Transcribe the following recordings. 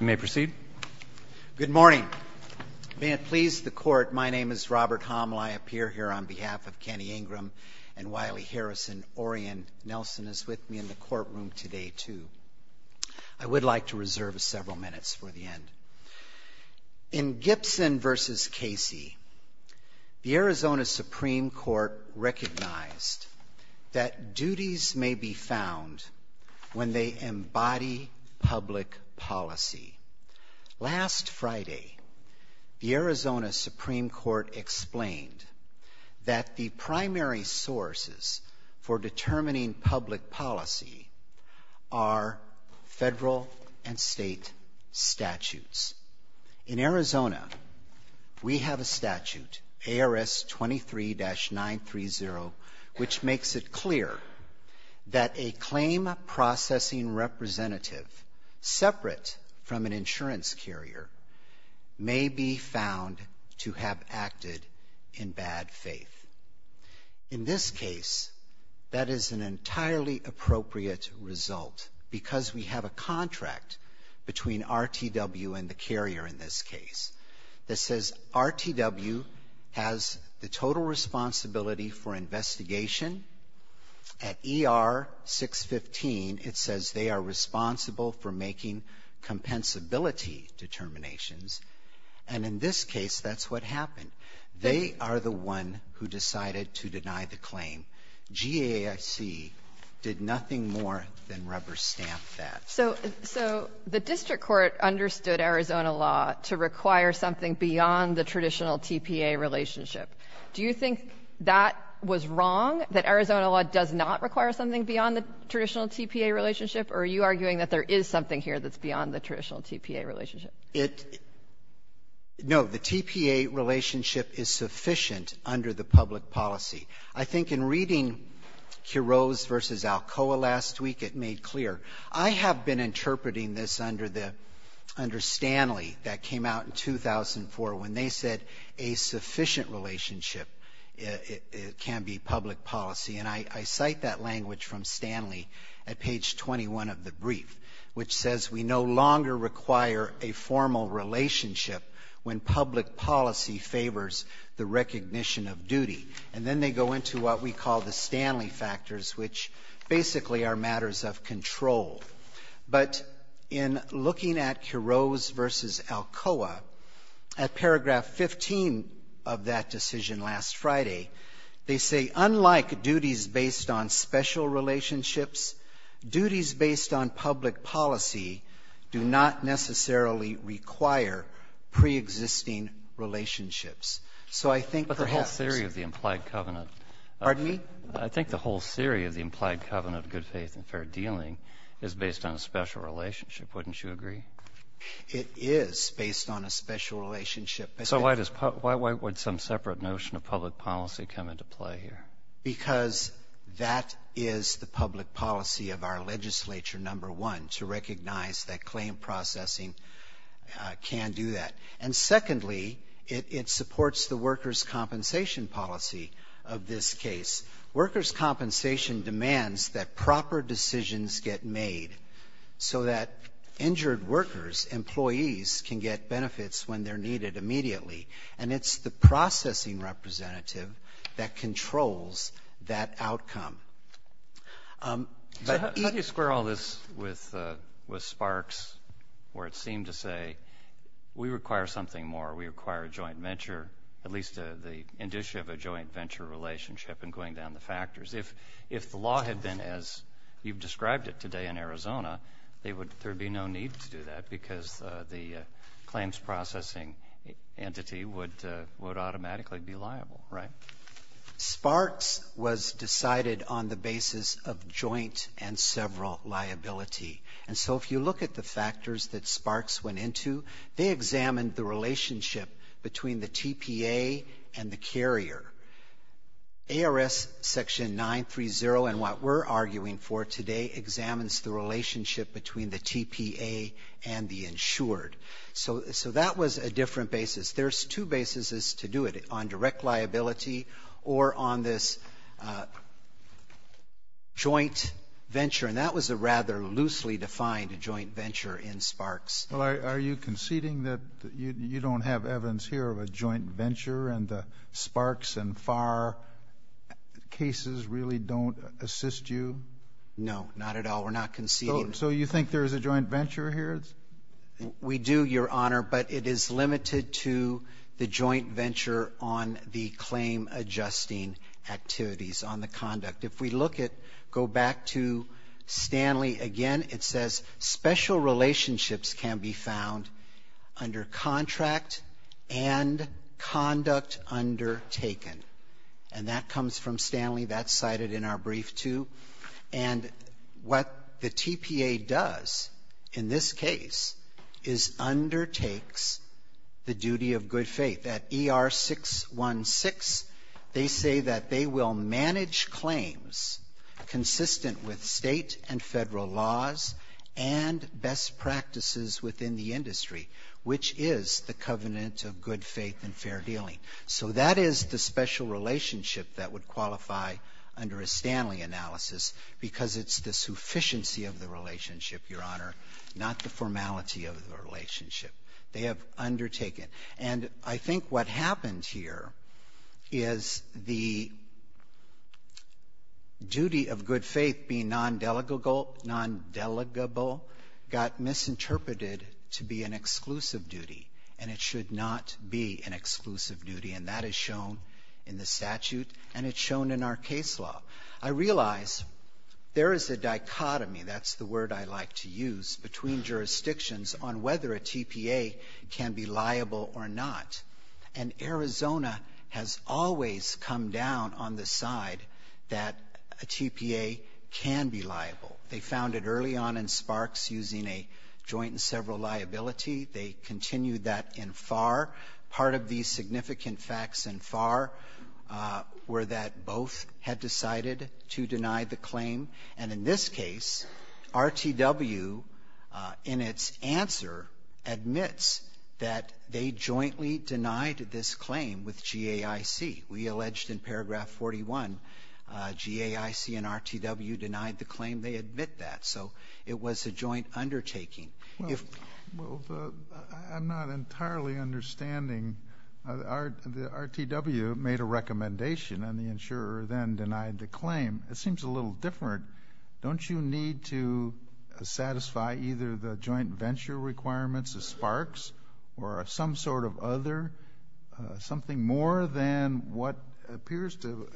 You may proceed. Good morning. May it please the Court, my name is Robert Hommel. I appear here on behalf of Kenny Ingram and Wiley Harrison. Orian Nelson is with me in the courtroom today, too. I would like to reserve several minutes for the end. In Gibson v. Casey, the Arizona Supreme Court recognized that duties may be found when they embody public policy. Last Friday, the Arizona Supreme Court explained that the primary sources for determining public policy are federal and state statutes. In Arizona, we have a statute, ARS 23-930, which makes it clear that a claim processing representative separate from an insurance carrier may be found to have acted in bad faith. In this case, that is an entirely appropriate result because we have a contract between RTW and the carrier in this case that says RTW has the total responsibility for investigation. At ER 615, it says they are responsible for making compensability determinations. And in this case, that's what happened. They are the one who decided to deny the claim. GAIC did nothing more than rubber stamp that. So the district court understood Arizona law to require something beyond the traditional TPA relationship. Do you think that was wrong, that Arizona law does not require something beyond the traditional TPA relationship? Or are you arguing that there is something here that's beyond the traditional TPA relationship? It — no, the TPA relationship is sufficient under the public policy. I think in reading Quiroz v. Alcoa last week, it made clear. I have been interpreting this under the — under Stanley that came out in 2004 when they said a sufficient relationship can be public policy. And I cite that language from Stanley at page 21 of the brief, which says we no longer require a formal relationship when public policy favors the recognition of duty. And then they go into what we call the Stanley factors, which basically are matters of control. But in looking at Quiroz v. Alcoa, at paragraph 15 of that decision last Friday, they say, unlike duties based on special relationships, duties based on public policy do not necessarily require preexisting relationships. So I think perhaps — The implied covenant — Pardon me? I think the whole theory of the implied covenant of good faith and fair dealing is based on a special relationship. Wouldn't you agree? It is based on a special relationship. So why does — why would some separate notion of public policy come into play here? Because that is the public policy of our legislature, number one, to recognize that claim processing can do that. And secondly, it supports the workers' compensation policy of this case. Workers' compensation demands that proper decisions get made so that injured workers, employees, can get benefits when they're needed immediately. And it's the processing representative that controls that outcome. But how do you square all this with Sparks, where it seemed to say, we require something more, we require a joint venture, at least the industry of a joint venture relationship and going down the factors? If the law had been as you've described it today in Arizona, there would be no need to do that because the claims processing entity would automatically be liable, right? Sparks was decided on the basis of joint and several liability. And so if you look at the factors that Sparks went into, they examined the relationship between the TPA and the carrier. ARS Section 930 and what we're arguing for today examines the relationship between the TPA and the insured. So that was a different basis. There's two bases to do it, on direct liability or on this joint venture. And that was a rather loosely defined joint venture in Sparks. Well, are you conceding that you don't have evidence here of a joint venture and the Sparks and FAR cases really don't assist you? No, not at all. We're not conceding. So you think there is a joint venture here? We do, Your Honor, but it is limited to the joint venture on the claim adjusting activities on the conduct. If we look at, go back to Stanley again, it says special relationships can be found under contract and conduct undertaken. And that comes from Stanley. That's cited in our brief too. And what the TPA does in this case is undertakes the duty of good faith. At ER 616, they say that they will manage claims consistent with state and federal laws and best practices within the industry, which is the covenant of good faith and fair dealing. So that is the special relationship that would qualify under a Stanley analysis because it's the sufficiency of the relationship, Your Honor, not the formality of the relationship. They have undertaken. And I think what happened here is the duty of good faith being non-delegable got misinterpreted to be an exclusive duty, and it should not be an exclusive duty. And that is shown in the statute and it's shown in our case law. I realize there is a dichotomy, that's the word I like to use, between jurisdictions on whether a TPA can be liable or not. And Arizona has always come down on the side that a TPA can be liable. They found it early on in Sparks using a joint and several liability. They continued that in Farr. Part of these significant facts in Farr were that both had decided to deny the claim. And in this case, RTW in its answer admits that they jointly denied this claim with GAIC. We alleged in paragraph 41, GAIC and RTW denied the claim. They admit that. So it was a joint undertaking. Well, I'm not entirely understanding. The RTW made a recommendation and the insurer then denied the claim. It seems a little different. Don't you need to satisfy either the joint venture requirements of Sparks or some sort of other, something more than what appears to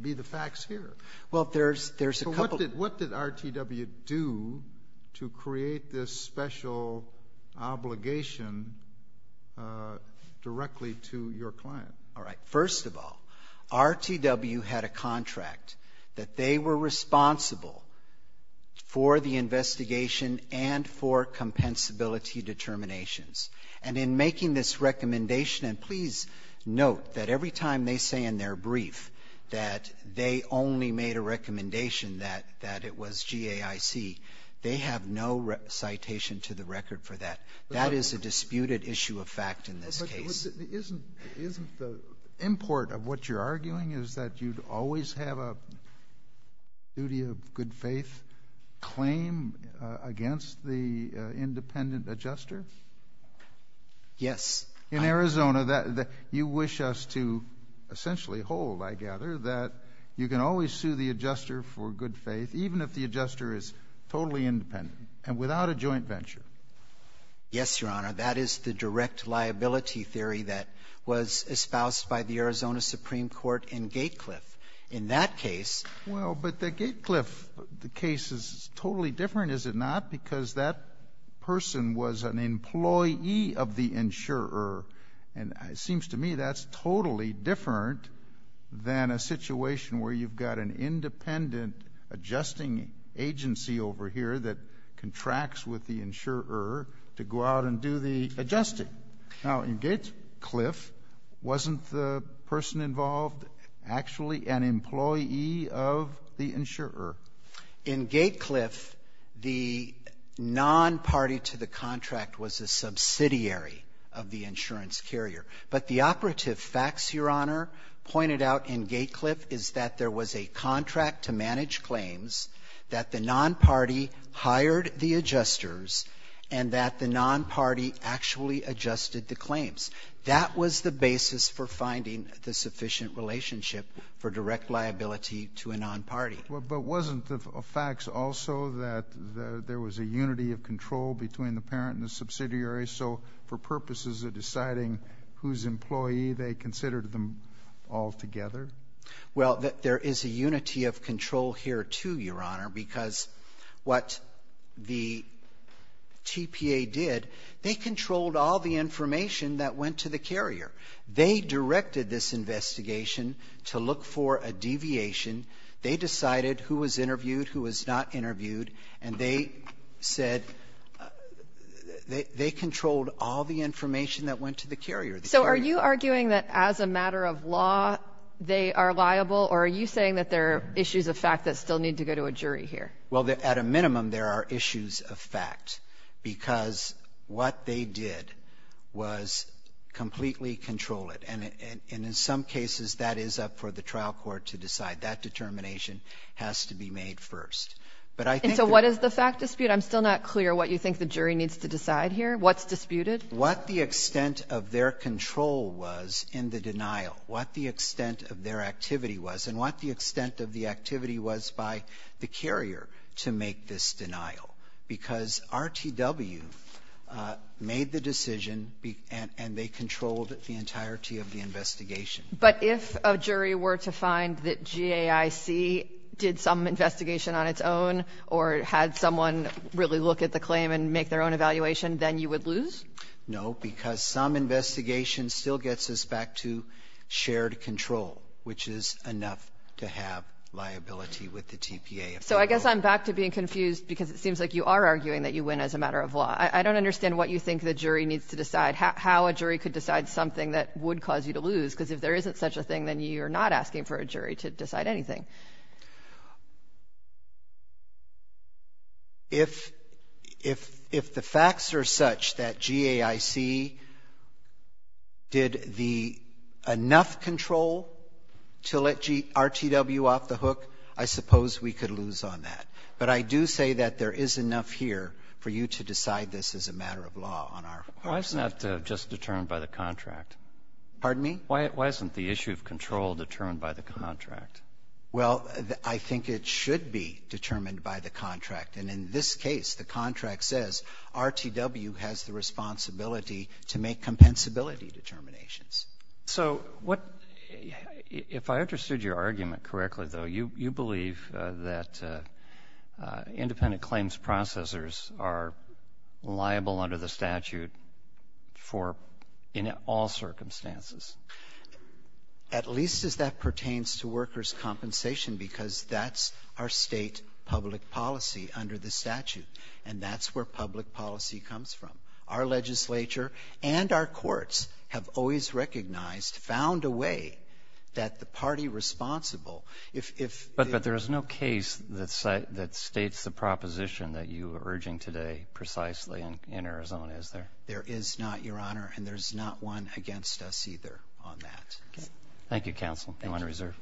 be the facts here? Well, there's a couple. What did RTW do to create this special obligation directly to your client? All right. First of all, RTW had a contract that they were responsible for the investigation and for compensability determinations. And in making this recommendation, and please note that every time they say in their brief that they only made a recommendation that it was GAIC, they have no citation to the record for that. That is a disputed issue of fact in this case. Isn't the import of what you're arguing is that you'd always have a duty of good faith claim against the independent adjuster? Yes. In Arizona, you wish us to essentially hold, I gather, that you can always sue the adjuster for good faith, even if the adjuster is totally independent and without a joint venture. Yes, Your Honor. That is the direct liability theory that was espoused by the Arizona Supreme Court in Gatecliff. In that case — Well, but the Gatecliff case is totally different, is it not? Because that person was an employee of the insurer, and it seems to me that's totally different than a situation where you've got an independent adjusting agency over here that contracts with the insurer to go out and do the adjusting. Now, in Gatecliff, wasn't the person involved actually an employee of the insurer? In Gatecliff, the non-party to the contract was a subsidiary of the insurance carrier. But the operative facts, Your Honor, pointed out in Gatecliff is that there was a contract to manage claims, that the non-party hired the adjusters, and that the non-party actually adjusted the claims. That was the basis for finding the sufficient relationship for direct liability to a non-party. But wasn't the facts also that there was a unity of control between the parent and the subsidiary? So, for purposes of deciding whose employee, they considered them all together? Well, there is a unity of control here, too, Your Honor, because what the TPA did, they controlled all the information that went to the carrier. They directed this investigation to look for a deviation. They decided who was interviewed, who was not interviewed, and they said they controlled all the information that went to the carrier. So, are you arguing that as a matter of law, they are liable, or are you saying that there are issues of fact that still need to go to a jury here? Well, at a minimum, there are issues of fact, because what they did was completely control it. And in some cases, that is up for the trial court to decide. That determination has to be made first. But I think— And so, what is the fact dispute? I'm still not clear what you think the jury needs to decide here. What's disputed? What the extent of their control was in the denial, what the extent of their activity was, and what the extent of the activity was by the carrier to make this denial. Because RTW made the decision, and they controlled the entirety of the investigation. But if a jury were to find that GAIC did some investigation on its own, or had someone really look at the claim and make their own evaluation, then you would lose? No, because some investigation still gets us back to shared control, which is enough to have liability with the TPA. So I guess I'm back to being confused, because it seems like you are arguing that you win as a matter of law. I don't understand what you think the jury needs to decide, how a jury could decide something that would cause you to lose, because if there isn't such a thing, then you're not asking for a jury to decide anything. If the facts are such that GAIC did the enough control to let RTW off the hook, I suppose we could lose on that. But I do say that there is enough here for you to decide this as a matter of law on our part. Why isn't that just determined by the contract? Pardon me? Why isn't the issue of control determined by the contract? Well, I think it should be determined by the contract, and in this case, the contract says RTW has the responsibility to make compensability determinations. So if I understood your argument correctly, though, you believe that independent claims processers are liable under the statute in all circumstances. At least as that pertains to workers' compensation, because that's our state public policy under the statute, and that's where public policy comes from. Our legislature and our courts have always recognized, found a way that the party responsible But there is no case that states the proposition that you are urging today precisely in Arizona, is there? There is not, Your Honor, and there's not one against us either on that. Thank you, counsel. Anyone reserve?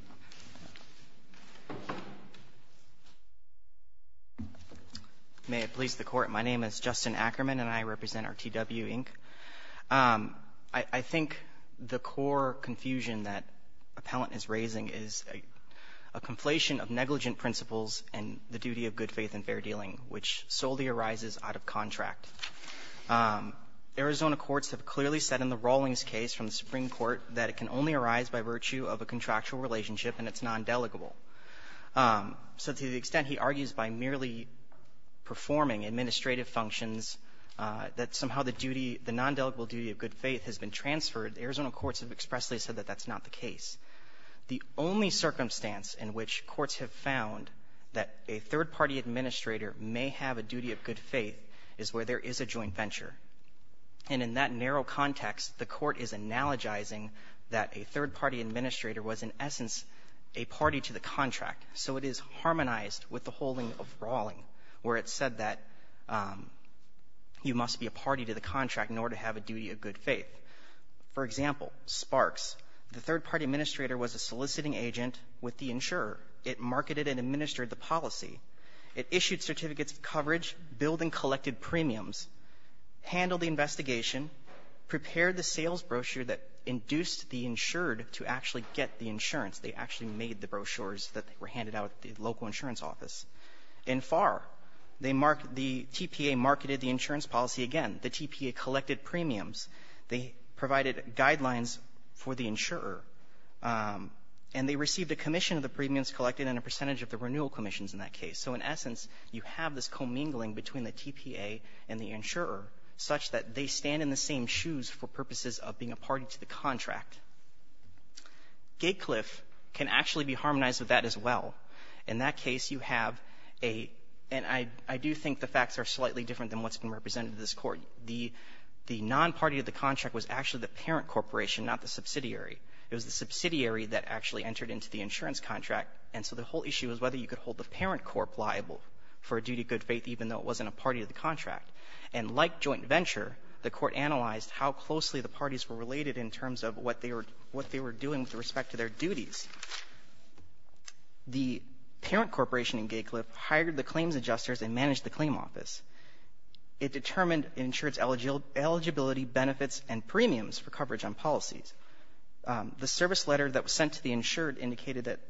May it please the Court. My name is Justin Ackerman, and I represent RTW, Inc. I think the core confusion that Appellant is raising is a conflation of negligent principles and the duty of good faith and fair dealing, which solely arises out of contract. Arizona courts have clearly said in the Rawlings case from the Supreme Court that it can only arise by virtue of a contractual relationship and it's non-delegable. So to the extent he argues by merely performing administrative functions, that somehow the duty, the non-delegable duty of good faith has been transferred, Arizona courts have expressly said that that's not the case. The only circumstance in which courts have found that a third-party administrator may have a duty of good faith is where there is a joint venture. And in that narrow context, the Court is analogizing that a third-party administrator was in essence a party to the contract. So it is harmonized with the holding of Rawling, where it said that you must be a party to the contract in order to have a duty of good faith. For example, Sparks, the third-party administrator was a soliciting agent with the insurer. It marketed and administered the policy. It issued certificates of coverage, billed and collected premiums, handled the investigation, prepared the sales brochure that induced the insured to actually get the insurance. They actually made the brochures that were handed out at the local insurance office. In Farr, the TPA marketed the insurance policy again. The TPA collected premiums. They provided guidelines for the insurer. And they received a commission of the premiums collected and a percentage of the renewal commissions in that case. So in essence, you have this commingling between the TPA and the insurer such that they stand in the same shoes for purposes of being a party to the contract. Gatecliff can actually be harmonized with that as well. In that case, you have a — and I do think the facts are slightly different than what's being represented in this court. The non-party to the contract was actually the parent corporation, not the subsidiary. It was the subsidiary that actually entered into the insurance contract. And so the whole issue is whether you could hold the parent corp liable for a duty of good faith even though it wasn't a party to the contract. And like joint venture, the court analyzed how closely the parties were related in terms of what they were doing with respect to their duties. In that case, the parent corporation in Gatecliff hired the claims adjusters and managed the claim office. It determined insurer's eligibility, benefits, and premiums for coverage on policies. The service letter that was sent to the insured indicated that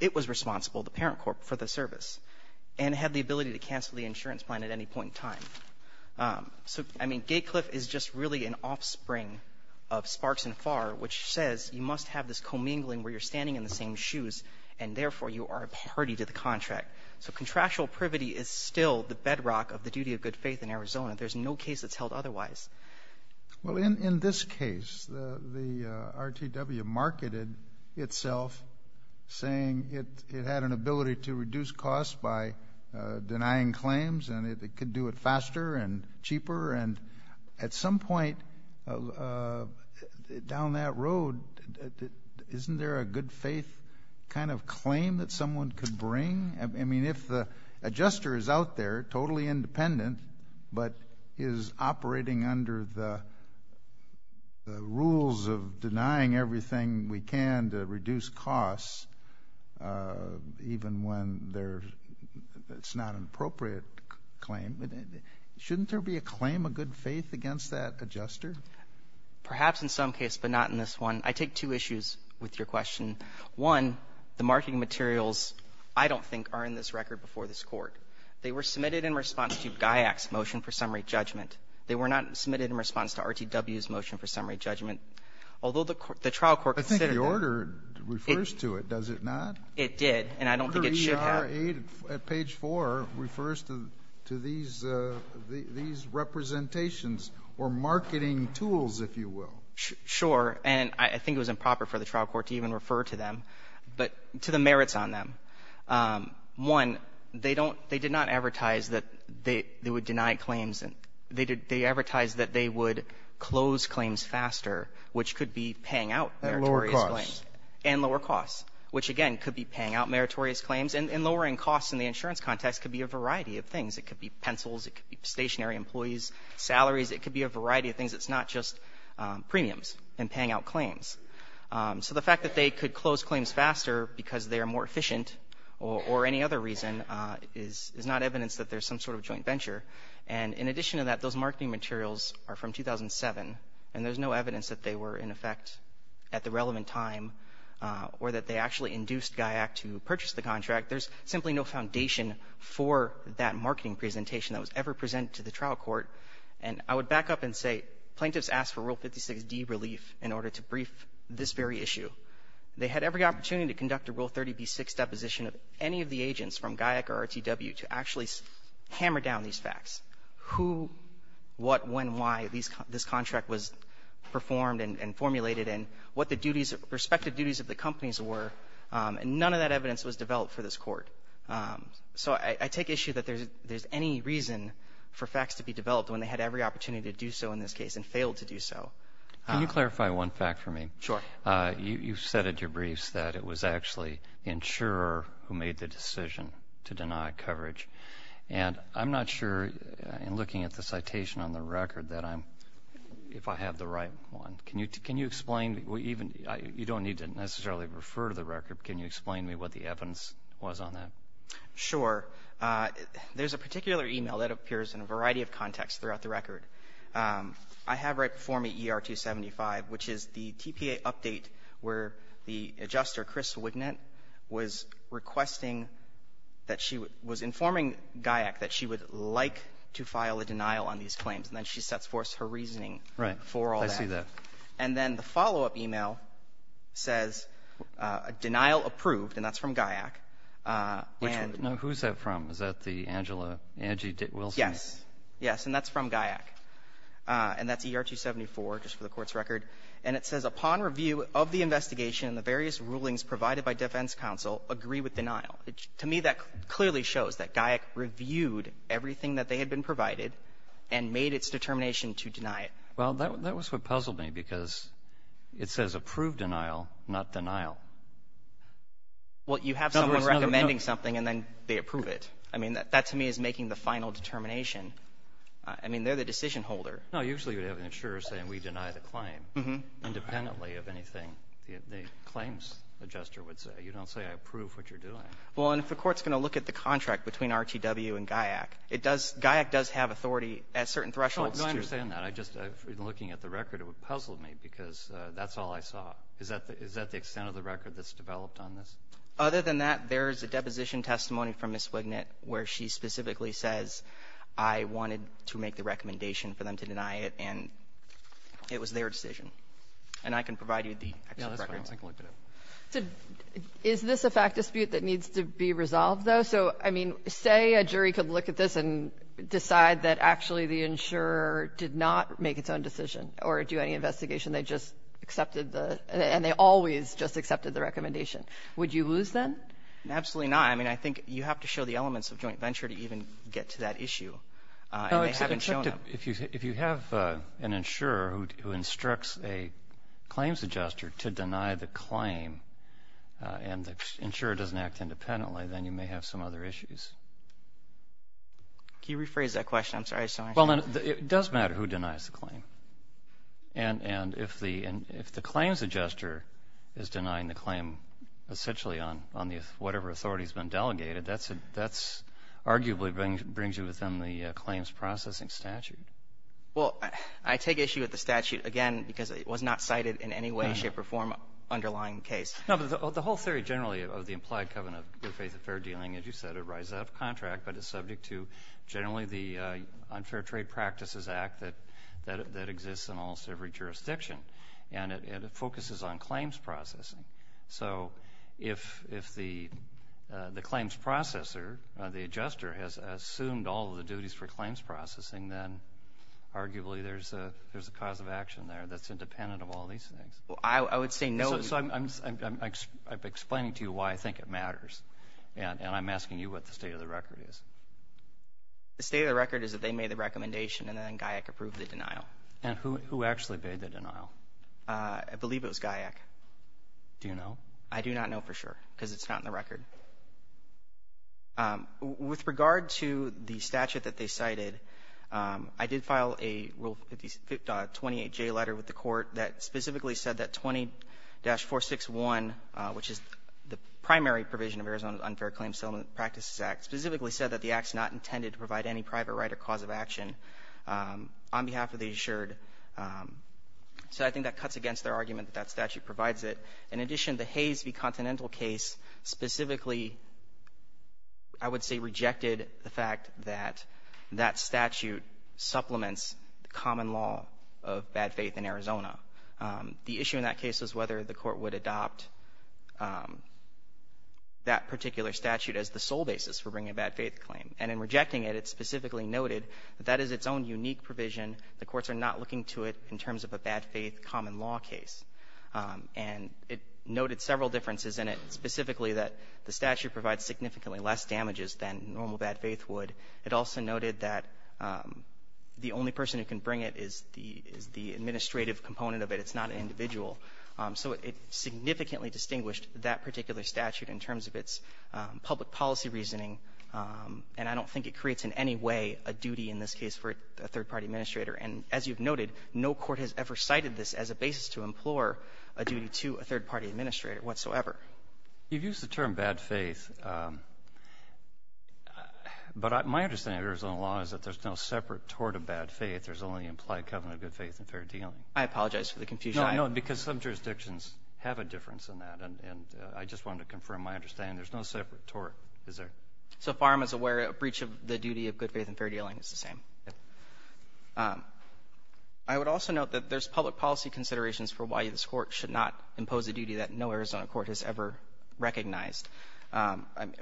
it was responsible, the parent corp, for the service and had the ability to cancel the insurance plan at any point in time. So, I mean, Gatecliff is just really an offspring of Sparks and Farr, which says you must have this commingling where you're standing in the same shoes and, therefore, you are a party to the contract. So contractual privity is still the bedrock of the duty of good faith in Arizona. There's no case that's held otherwise. Well, in this case, the RTW marketed itself saying it had an ability to reduce costs by denying claims and it could do it faster and cheaper. And at some point down that road, isn't there a good faith kind of claim that someone could bring? I mean, if the adjuster is out there, totally independent, but is operating under the rules of denying everything we can to reduce costs, even when it's not an appropriate claim, shouldn't there be a claim of good faith against that adjuster? Perhaps in some case, but not in this one. I take two issues with your question. One, the marketing materials, I don't think, are in this record before this Court. They were submitted in response to GAIAC's motion for summary judgment. They were not submitted in response to RTW's motion for summary judgment. Although the trial court considered that. I think the order refers to it, does it not? It did, and I don't think it should have. Your aid at page four refers to these representations or marketing tools, if you will. Sure, and I think it was improper for the trial court to even refer to them, but to the merits on them. One, they did not advertise that they would deny claims, they advertised that they would close claims faster, which could be paying out meritorious claims. And lower costs. Which again, could be paying out meritorious claims, and lowering costs in the insurance context could be a variety of things. It could be pencils, it could be stationary employees, salaries, it could be a variety of things. It's not just premiums and paying out claims. So the fact that they could close claims faster because they are more efficient or any other reason is not evidence that there's some sort of joint venture. And in addition to that, those marketing materials are from 2007, and there's no evidence that they were in effect at the relevant time, or that they actually induced GAIAC to purchase the contract. There's simply no foundation for that marketing presentation that was ever presented to the trial court. And I would back up and say, plaintiffs asked for Rule 56D relief in order to brief this very issue. They had every opportunity to conduct a Rule 30b-6 deposition of any of the agents from GAIAC or RTW to actually hammer down these facts, who, what, when, why this contract was performed and formulated, and what the duties, respective duties of the companies were, and none of that evidence was developed for this court. So I take issue that there's any reason for facts to be developed when they had every opportunity to do so in this case, and failed to do so. Can you clarify one fact for me? Sure. You've said at your briefs that it was actually the insurer who made the decision to deny coverage. And I'm not sure, in looking at the citation on the record, that I'm, if I have the right one. Can you explain, even, you don't need to necessarily refer to the record, but can you explain to me what the evidence was on that? Sure. There's a particular email that appears in a variety of contexts throughout the record. I have right before me ER 275, which is the TPA update where the adjuster, Chris Wignett, was requesting that she was informing GAYAC that she would like to file a denial on these claims. And then she sets forth her reasoning for all that. Right. I see that. And then the follow-up email says, denial approved, and that's from GAYAC, and — Which one? No, who is that from? Is that the Angela, Angie Wilson? Yes. Yes. And that's from GAYAC. And that's ER 274, just for the Court's record. And it says, upon review of the investigation and the various rulings provided by Defense Counsel, agree with denial. To me, that clearly shows that GAYAC reviewed everything that they had been provided and made its determination to deny it. Well, that was what puzzled me because it says approved denial, not denial. Well, you have someone recommending something and then they approve it. I mean, that to me is making the final determination. I mean, they're the decision holder. No, usually you would have an insurer saying, we deny the claim, independently of anything the claims adjuster would say. You don't say, I approve what you're doing. Well, and if the Court's going to look at the contract between RTW and GAYAC, it does — GAYAC does have authority at certain thresholds to — No, I understand that. I just — in looking at the record, it would puzzle me because that's all I saw. Is that the extent of the record that's developed on this? Other than that, there is a deposition testimony from Ms. Wignett where she specifically says, I wanted to make the recommendation for them to deny it, and it was their decision. And I can provide you the — No, that's fine. I can look at it. Is this a fact dispute that needs to be resolved, though? So, I mean, say a jury could look at this and decide that actually the insurer did not make its own decision or do any investigation. They just accepted the — and they always just accepted the recommendation. Would you lose then? Absolutely not. Yeah, I mean, I think you have to show the elements of joint venture to even get to that issue. And they haven't shown them. If you have an insurer who instructs a claims adjuster to deny the claim and the insurer doesn't act independently, then you may have some other issues. Can you rephrase that question? I'm sorry. Well, it does matter who denies the claim. And if the claims adjuster is denying the claim essentially on the — whatever authority has been delegated, that arguably brings you within the claims processing statute. Well, I take issue with the statute, again, because it was not cited in any way, shape or form underlying the case. No, but the whole theory generally of the implied covenant of good faith affair dealing, as you said, it arises out of contract, but it's subject to generally the Unfair Trade Practices Act that exists in almost every jurisdiction. And it focuses on claims processing. So if the claims processor, the adjuster, has assumed all of the duties for claims processing, then arguably there's a cause of action there that's independent of all these things. Well, I would say no — So I'm explaining to you why I think it matters, and I'm asking you what the state of the record is. The state of the record is that they made the recommendation and then GAIAC approved the denial. And who actually made the denial? I believe it was GAIAC. Do you know? I do not know for sure, because it's not in the record. With regard to the statute that they cited, I did file a Rule 58J letter with the court that specifically said that 20-461, which is the primary provision of Arizona's Unfair Claims Settlement Practices Act, specifically said that the act's not intended to provide any private right or cause of action. On behalf of the assured — so I think that cuts against their argument that that statute provides it. In addition, the Hayes v. Continental case specifically, I would say, rejected the fact that that statute supplements the common law of bad faith in Arizona. The issue in that case was whether the court would adopt that particular statute as the sole basis for bringing a bad faith claim. And in rejecting it, it specifically noted that that is its own unique provision. The courts are not looking to it in terms of a bad faith common law case. And it noted several differences in it, specifically that the statute provides significantly less damages than normal bad faith would. It also noted that the only person who can bring it is the administrative component of it. It's not an individual. So it significantly distinguished that particular statute in terms of its public policy reasoning and I don't think it creates in any way a duty in this case for a third-party administrator. And as you've noted, no court has ever cited this as a basis to implore a duty to a third-party administrator whatsoever. You've used the term bad faith, but my understanding of Arizona law is that there's no separate tort of bad faith. There's only implied covenant of good faith and fair dealing. I apologize for the confusion. No, I know, because some jurisdictions have a difference in that, and I just wanted to confirm my understanding. There's no separate tort. Is there? So far as I'm aware, a breach of the duty of good faith and fair dealing is the same. I would also note that there's public policy considerations for why this court should not impose a duty that no Arizona court has ever recognized.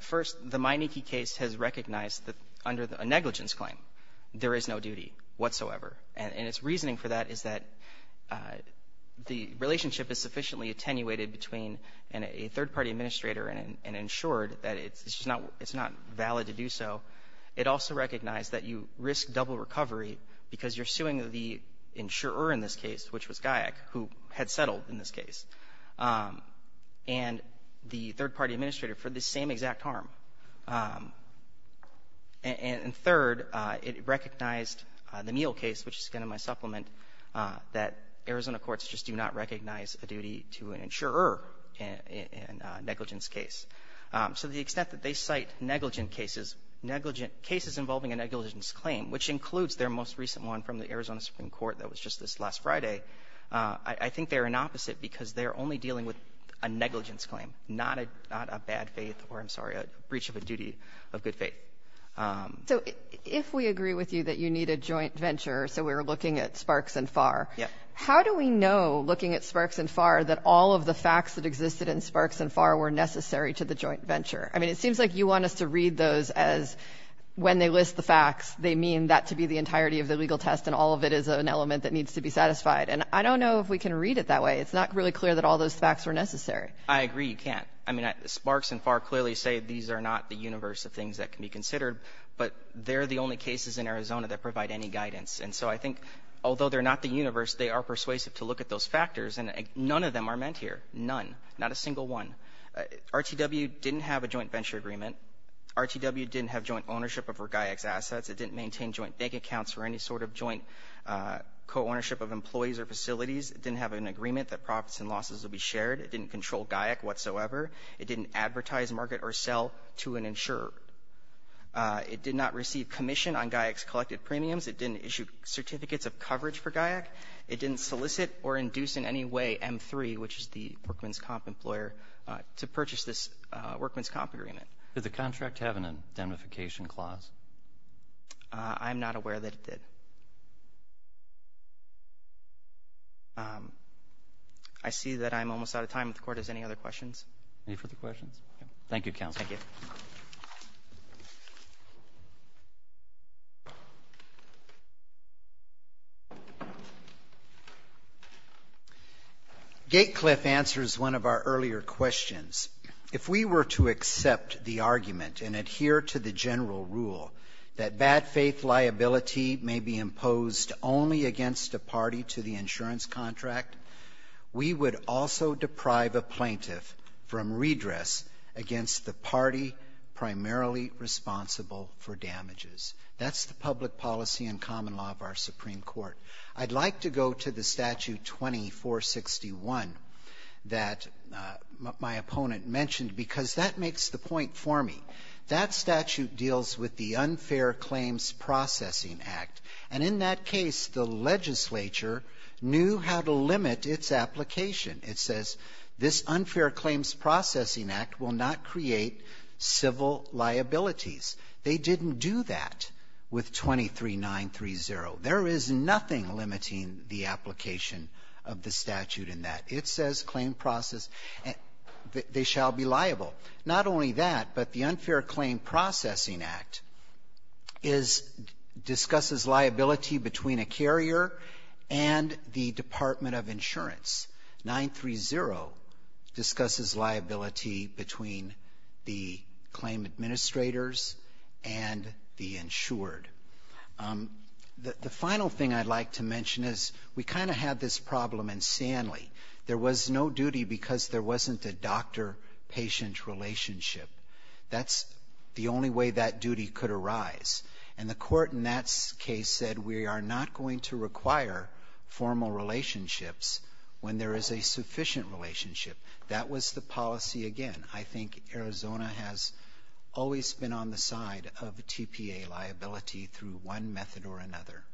First, the Meineke case has recognized that under a negligence claim, there is no duty whatsoever. And its reasoning for that is that the relationship is sufficiently attenuated between a third-party administrator and an insured, that it's just not valid to do so. It also recognized that you risk double recovery because you're suing the insurer in this case, which was Gayek, who had settled in this case, and the third-party administrator for this same exact harm. And third, it recognized the Miele case, which is again in my supplement, that Arizona courts just do not recognize a duty to an insurer in a negligence case. So the extent that they cite negligent cases, negligent cases involving a negligence claim, which includes their most recent one from the Arizona Supreme Court that was just this last Friday, I think they're an opposite because they're only dealing with a negligence claim, not a bad faith or, I'm sorry, a breach of a duty of good faith. So if we agree with you that you need a joint venture, so we're looking at Sparks and Farr, how do we know, looking at Sparks and Farr, that all of the facts that existed in Sparks and Farr were necessary to the joint venture? I mean, it seems like you want us to read those as when they list the facts, they mean that to be the entirety of the legal test and all of it is an element that needs to be satisfied. And I don't know if we can read it that way. It's not really clear that all those facts were necessary. I agree you can't. I mean, Sparks and Farr clearly say these are not the universe of things that can be considered, but they're the only cases in Arizona that provide any guidance. And so I think, although they're not the universe, they are persuasive to look at those factors and none of them are meant here. None. Not a single one. RTW didn't have a joint venture agreement. RTW didn't have joint ownership over GAIC's assets. It didn't maintain joint bank accounts or any sort of joint co-ownership of employees or facilities. It didn't have an agreement that profits and losses would be shared. It didn't control GAIC whatsoever. It didn't advertise, market, or sell to an insurer. It did not receive commission on GAIC's collected premiums. It didn't issue certificates of coverage for GAIC. It didn't solicit or induce in any way M3, which is the workman's comp employer, to purchase this workman's comp agreement. Did the contract have an indemnification clause? I'm not aware that it did. I see that I'm almost out of time. If the Court has any other questions. Any further questions? Thank you, Counsel. Thank you. Thank you. Gatecliff answers one of our earlier questions. If we were to accept the argument and adhere to the general rule that bad faith liability may be imposed only against a party to the insurance contract, we would also deprive the plaintiff from redress against the party primarily responsible for damages. That's the public policy and common law of our Supreme Court. I'd like to go to the Statute 2461 that my opponent mentioned because that makes the point for me. That statute deals with the Unfair Claims Processing Act. And in that case, the legislature knew how to limit its application. It says, this Unfair Claims Processing Act will not create civil liabilities. They didn't do that with 23930. There is nothing limiting the application of the statute in that. It says claim process, they shall be liable. Not only that, but the Unfair Claim Processing Act is, discusses liability between a carrier and the Department of Insurance. 930 discusses liability between the claim administrators and the insured. The final thing I'd like to mention is, we kind of had this problem in Sanley. There was no duty because there wasn't a doctor-patient relationship. That's the only way that duty could arise. And the court in that case said, we are not going to require formal relationships when there is a sufficient relationship. That was the policy again. I think Arizona has always been on the side of the TPA liability through one method or another.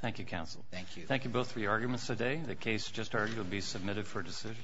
Thank you, counsel. Thank you. Thank you both for your arguments today. The case just argued will be submitted for decision.